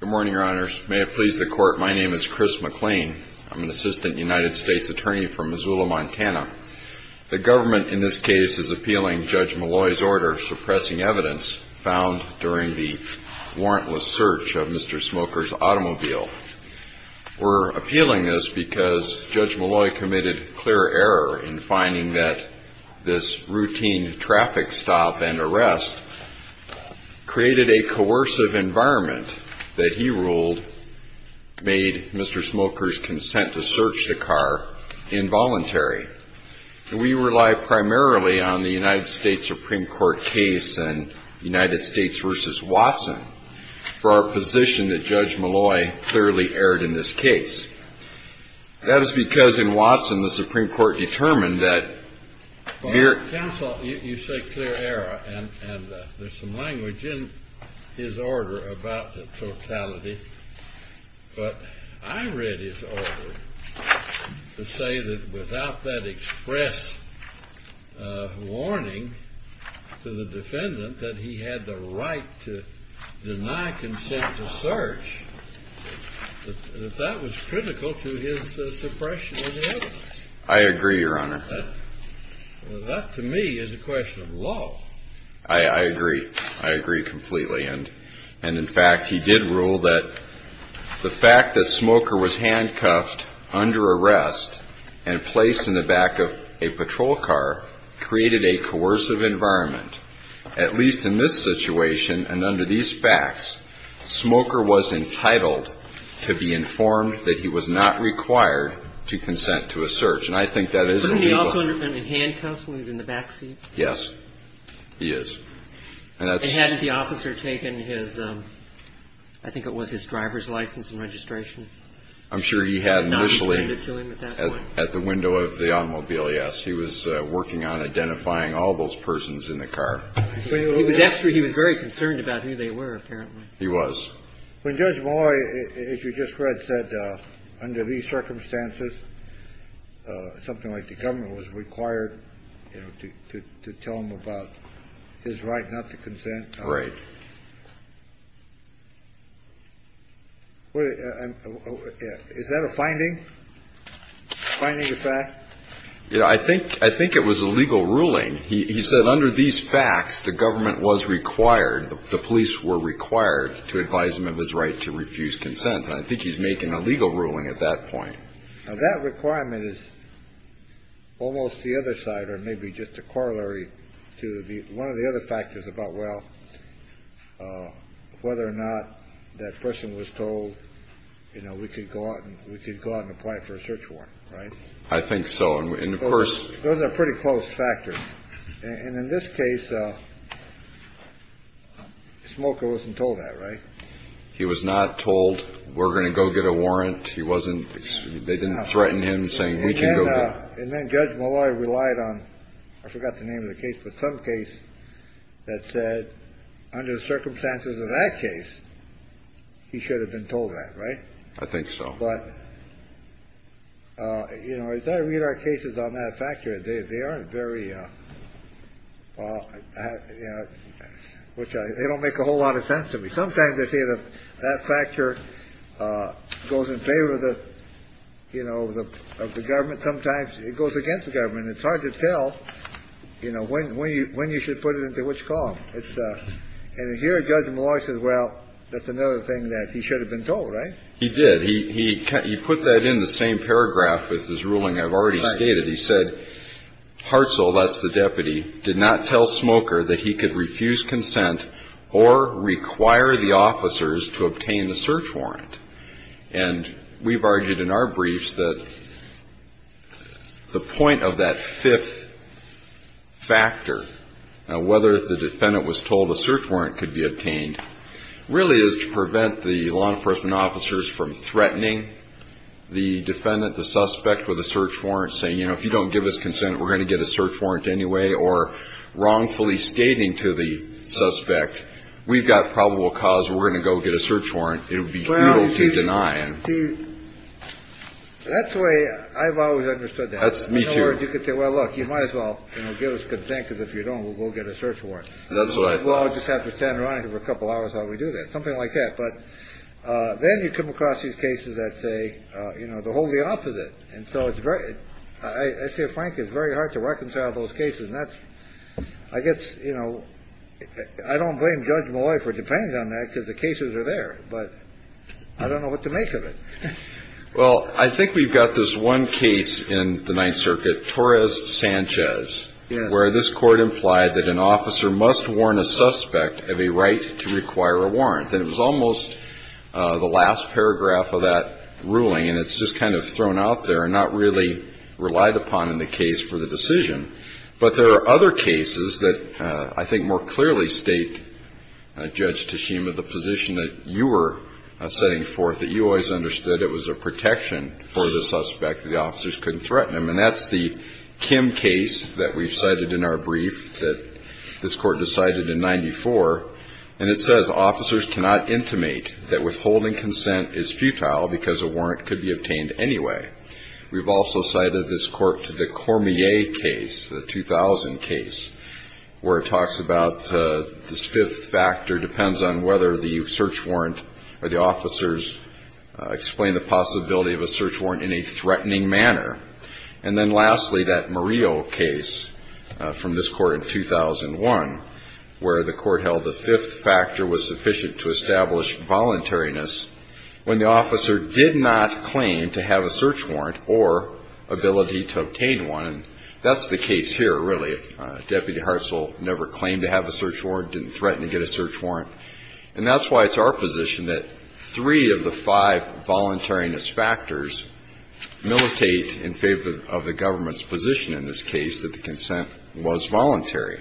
Good morning, your honors. May it please the court, my name is Chris McLean. I'm an assistant United States attorney from Missoula, Montana. The government in this case is appealing Judge Malloy's order suppressing evidence found during the warrantless search of Mr. Smoker's automobile. We're appealing this because Judge Malloy committed clear error in finding that this routine traffic stop and arrest created a coercive environment that he ruled made Mr. Smoker's consent to search the car involuntary. We rely primarily on the United States Supreme Court case in United States v. Watson for our position that Judge Malloy clearly erred in this case. That is because in Watson the Supreme Court determined that mere... Counsel, you say clear error, and there's some language in his order about the totality. But I read his order to say that without that express warning to the defendant that he had the right to deny consent to search, that that was critical to his suppression of the evidence. I agree, your honor. That to me is a question of law. I agree. I agree completely. And in fact, he did rule that the fact that Smoker was handcuffed under arrest and placed in the back of a patrol car created a coercive environment. At least in this situation and under these facts, Smoker was entitled to be informed that he was not required to consent to a search. And I think that is... Wasn't he also in handcuffs when he was in the back seat? Yes, he is. And hadn't the officer taken his, I think it was his driver's license and registration? I'm sure he had initially at the window of the automobile, yes. He was working on identifying all those persons in the car. Actually, he was very concerned about who they were, apparently. He was. When Judge Malloy, as you just read, said under these circumstances, something like the government was required to tell him about his right not to consent. Right. Is that a finding, finding the fact? I think it was a legal ruling. He said under these facts, the government was required, the police were required to advise him of his right to refuse consent. And I think he's making a legal ruling at that point. Now, that requirement is almost the other side or maybe just a corollary to one of the other factors about, well, whether or not that person was told, you know, we could go out and we could go out and apply for a search warrant. Right. I think so. And of course, those are pretty close factors. And in this case, Smoker wasn't told that. Right. He was not told we're going to go get a warrant. He wasn't. They didn't threaten him saying we can go. And then Judge Malloy relied on I forgot the name of the case, but some case that said under the circumstances of that case, he should have been told that. Right. I think so. But, you know, as I read our cases on that factor, they aren't very well, you know, which they don't make a whole lot of sense to me. Sometimes they say that that factor goes in favor of the you know, of the government. Sometimes it goes against the government. It's hard to tell, you know, when, when, when you should put it into which column. And here, Judge Malloy says, well, that's another thing that he should have been told. Right. He did. He put that in the same paragraph with his ruling I've already stated. He said, Hartzell, that's the deputy, did not tell Smoker that he could refuse consent or require the officers to obtain the search warrant. And we've argued in our briefs that the point of that fifth factor, whether the defendant was told a search warrant could be obtained, really is to prevent the law enforcement officers from threatening the defendant, the suspect with a search warrant saying, you know, if you don't give us consent, we're going to get a search warrant anyway, or wrongfully stating to the suspect, we've got probable cause, we're going to go get a search warrant. It would be cruel to deny. That's the way I've always understood. That's me, too. Or you could say, well, look, you might as well give us consent, because if you don't, we'll get a search warrant. That's right. Well, I just have to stand around for a couple hours while we do that. Something like that. But then you come across these cases that say, you know, the whole the opposite. And so it's very I say, Frank, it's very hard to reconcile those cases. And that's I guess, you know, I don't blame Judge Malloy for depending on that because the cases are there, but I don't know what to make of it. Well, I think we've got this one case in the Ninth Circuit, Torres Sanchez, where this court implied that an officer must warn a suspect of a right to require a warrant. And it was almost the last paragraph of that ruling. And it's just kind of thrown out there and not really relied upon in the case for the decision. But there are other cases that I think more clearly state, Judge Tashima, the position that you were setting forth, that you always understood it was a protection for the suspect, that the officers couldn't threaten him. And that's the Kim case that we've cited in our brief that this court decided in 94. And it says officers cannot intimate that withholding consent is futile because a warrant could be obtained anyway. We've also cited this court to the Cormier case, the 2000 case, where it talks about this fifth factor depends on whether the search warrant or the officers explain the possibility of a search warrant in a threatening manner. And then lastly, that Murillo case from this court in 2001, where the court held the fifth factor was sufficient to establish voluntariness when the officer did not claim to have a search warrant or ability to obtain one. That's the case here, really. Deputy Hartsville never claimed to have a search warrant, didn't threaten to get a search warrant. And that's why it's our position that three of the five voluntariness factors militate in favor of the government's position in this case, that the consent was voluntary.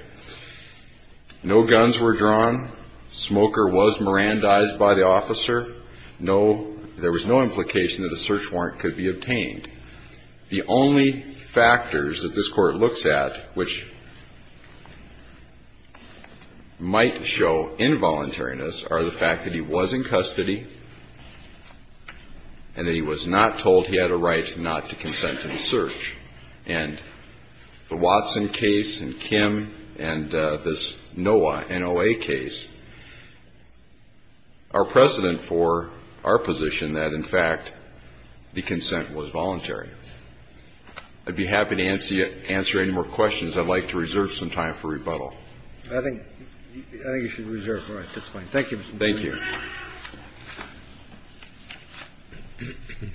No guns were drawn. Smoker was Mirandized by the officer. No, there was no implication that a search warrant could be obtained. The only factors that this court looks at which might show involuntariness are the fact that he was in custody and that he was not told he had a right not to consent to the search. And the Watson case and Kim and this Noah, N-O-A case are precedent for our position that, in fact, the consent was voluntary. I'd be happy to answer any more questions. I'd like to reserve some time for rebuttal. I think you should reserve. All right. That's fine. Thank you, Mr. Chief. Thank you.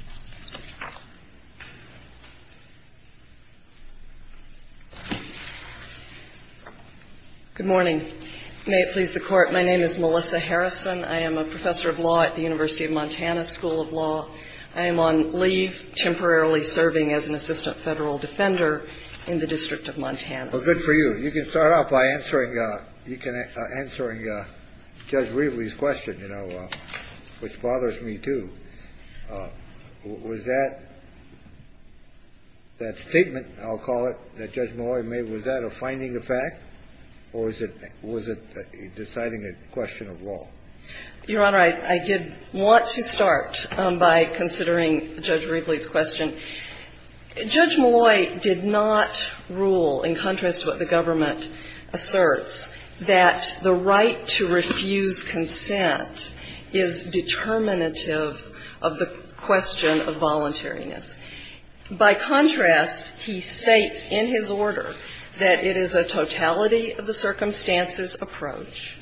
Good morning. May it please the Court. My name is Melissa Harrison. I am a professor of law at the University of Montana School of Law. I am on leave, temporarily serving as an assistant federal defender in the District of Montana. Well, good for you. You can start off by answering Judge Riebley's question, you know, which bothers me, too. Was that statement, I'll call it, that Judge Malloy made, was that a finding of fact, or was it deciding a question of law? Your Honor, I did want to start by considering Judge Riebley's question. Judge Malloy did not rule, in contrast to what the government asserts, that the right to refuse consent is determinative of the question of voluntariness. By contrast, he states in his order that it is a totality-of-the-circumstances approach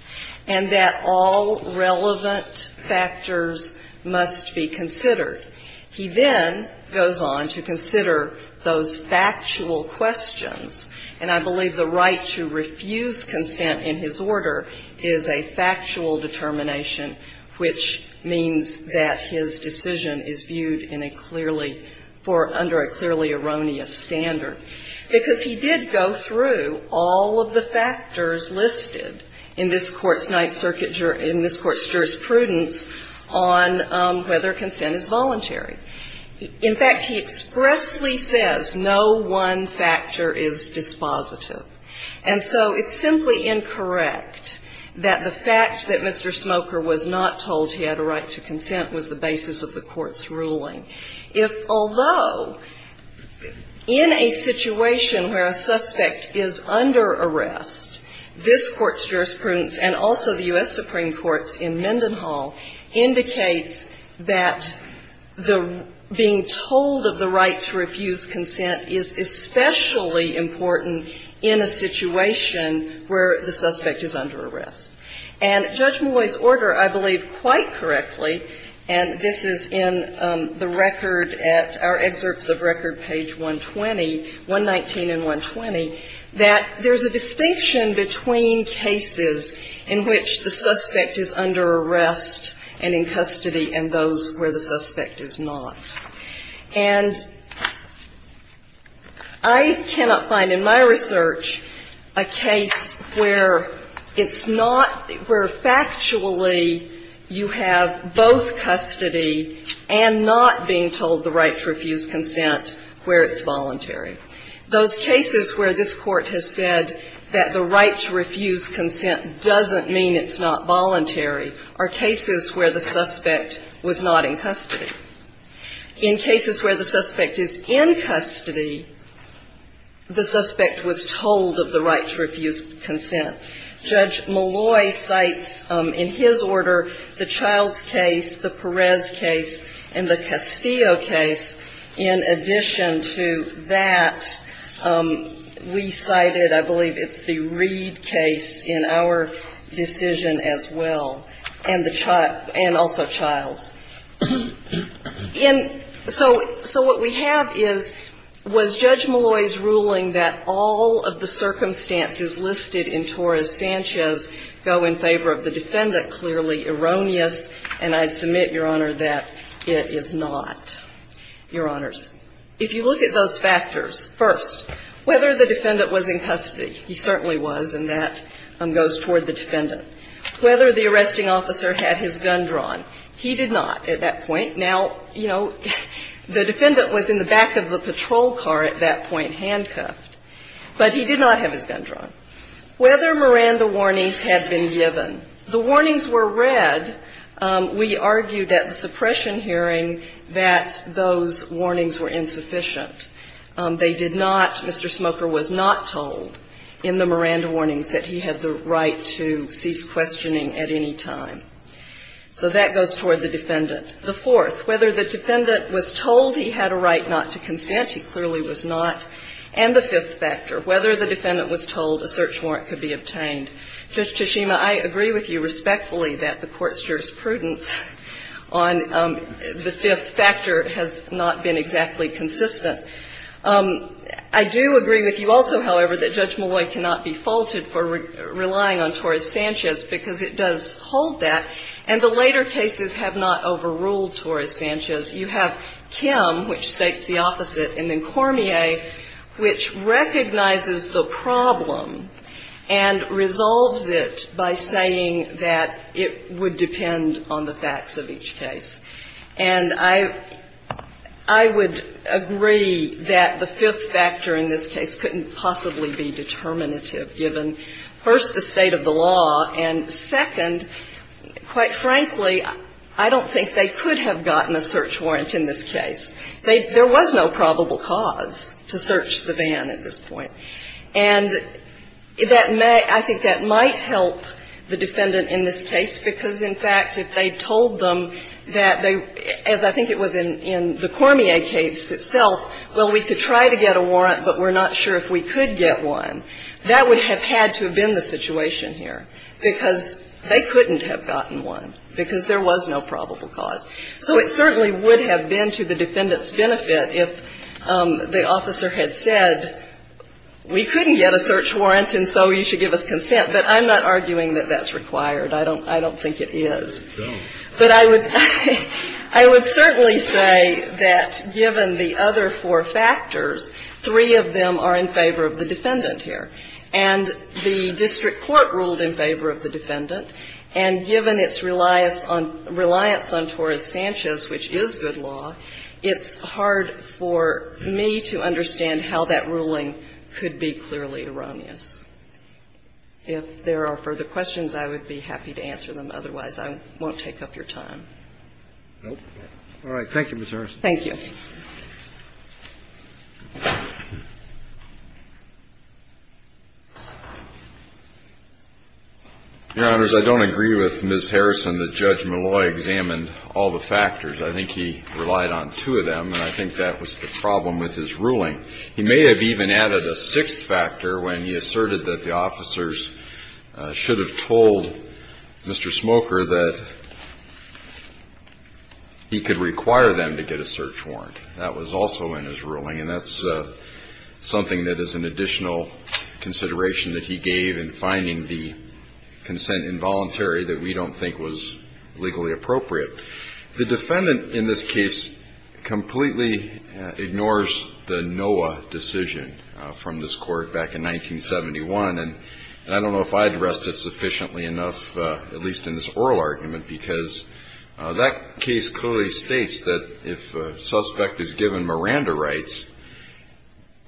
and that all relevant factors must be considered. He then goes on to consider those factual questions. And I believe the right to refuse consent in his order is a factual determination, which means that his decision is viewed in a clearly — for — under a clearly erroneous standard. Because he did go through all of the factors listed in this Court's Ninth Circuit — in this Court's jurisprudence on whether consent is voluntary. In fact, he expressly says no one factor is dispositive. And so it's simply incorrect that the fact that Mr. Smoker was not told he had a right to consent was the basis of the Court's ruling. If — although in a situation where a suspect is under arrest, this Court's jurisprudence and also the U.S. Supreme Court's in Mendenhall indicates that the — being told of the right to refuse consent is especially important in a situation where the suspect is under arrest. And Judge Malloy's order, I believe, quite correctly — and this is in the record at — our excerpts of record, page 120 — 119 and 120 — that there's a distinction between cases in which the suspect is under arrest and in custody and those where the suspect is not. And I cannot find in my research a case where it's not — where factually you have both custody and not being told the right to refuse consent where it's voluntary. Those cases where this Court has said that the right to refuse consent doesn't mean it's not voluntary are cases where the suspect was not in custody. In cases where the suspect is in custody, the suspect was told of the right to refuse consent. Judge Malloy cites in his order the Childs case, the Perez case, and the Castillo case. In addition to that, we cited, I believe, it's the Reed case in our decision as well, and the — and also Childs. And so — so what we have is — was Judge Malloy's ruling that all of the circumstances listed in Torres-Sanchez go in favor of the defendant clearly erroneous? And I submit, Your Honor, that it is not, Your Honors. If you look at those factors, first, whether the defendant was in custody, he certainly was, and that goes toward the defendant. Whether the arresting officer had his gun drawn, he did not at that point. Now, you know, the defendant was in the back of the patrol car at that point, handcuffed. But he did not have his gun drawn. Whether Miranda warnings had been given, the warnings were read. We argued at the suppression hearing that those warnings were insufficient. They did not — Mr. Smoker was not told in the Miranda warnings that he had the right to cease questioning at any time. So that goes toward the defendant. The fourth, whether the defendant was told he had a right not to consent, he clearly was not. And the fifth factor, whether the defendant was told a search warrant could be obtained. And, Judge Toshima, I agree with you respectfully that the Court's jurisprudence on the fifth factor has not been exactly consistent. I do agree with you also, however, that Judge Molloy cannot be faulted for relying on Torres-Sanchez because it does hold that, and the later cases have not overruled Torres-Sanchez. You have Kim, which states the opposite, and then Cormier, which recognizes the problem and resolves it by saying that it would depend on the facts of each case. And I would agree that the fifth factor in this case couldn't possibly be determinative given, first, the state of the law, and, second, quite frankly, I don't think they could have gotten a search warrant in this case. There was no probable cause to search the van at this point. And that may, I think that might help the defendant in this case because, in fact, if they told them that they, as I think it was in the Cormier case itself, well, we could try to get a warrant, but we're not sure if we could get one, that would have had to have been the situation here because they couldn't have gotten one because there was no probable cause. So it certainly would have been to the defendant's benefit if the officer had said we couldn't get a search warrant and so you should give us consent. But I'm not arguing that that's required. I don't think it is. But I would certainly say that given the other four factors, three of them are in favor of the defendant here. And the district court ruled in favor of the defendant, and given its reliance on Torres-Sanchez, which is good law, it's hard for me to understand how that ruling could be clearly erroneous. If there are further questions, I would be happy to answer them. Otherwise, I won't take up your time. Roberts. Thank you, Ms. Harrison. Thank you. Your Honors, I don't agree with Ms. Harrison that Judge Malloy examined all the factors. I think he relied on two of them, and I think that was the problem with his ruling. He may have even added a sixth factor when he asserted that the officers should have told Mr. Smoker that he could require them to get a search warrant. That was also in his ruling, and that's something that is an additional consideration that he gave in finding the consent involuntary that we don't think was legally appropriate. The defendant in this case completely ignores the NOAA decision from this court back in 1971, and I don't know if I addressed it sufficiently enough, at least in this case. In this case, the suspect is given Miranda rights,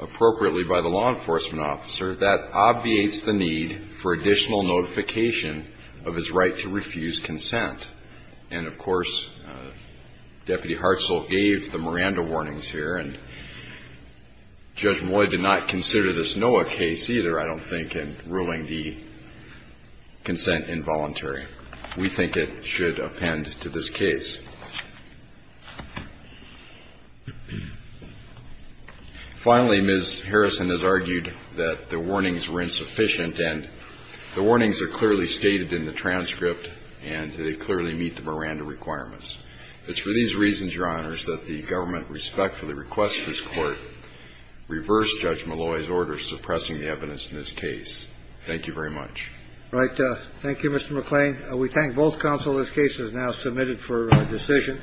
appropriately by the law enforcement officer, that obviates the need for additional notification of his right to refuse consent. And, of course, Deputy Hartzell gave the Miranda warnings here, and Judge Malloy did not consider this NOAA case either, I don't think, in ruling the consent involuntary. We think it should append to this case. Finally, Ms. Harrison has argued that the warnings were insufficient, and the warnings are clearly stated in the transcript, and they clearly meet the Miranda requirements. It's for these reasons, Your Honors, that the government respectfully requests this Court reverse Judge Malloy's order suppressing the evidence in this case. Thank you very much. All right. Thank you, Mr. McClain. We thank both counsel. This case is now submitted for decision.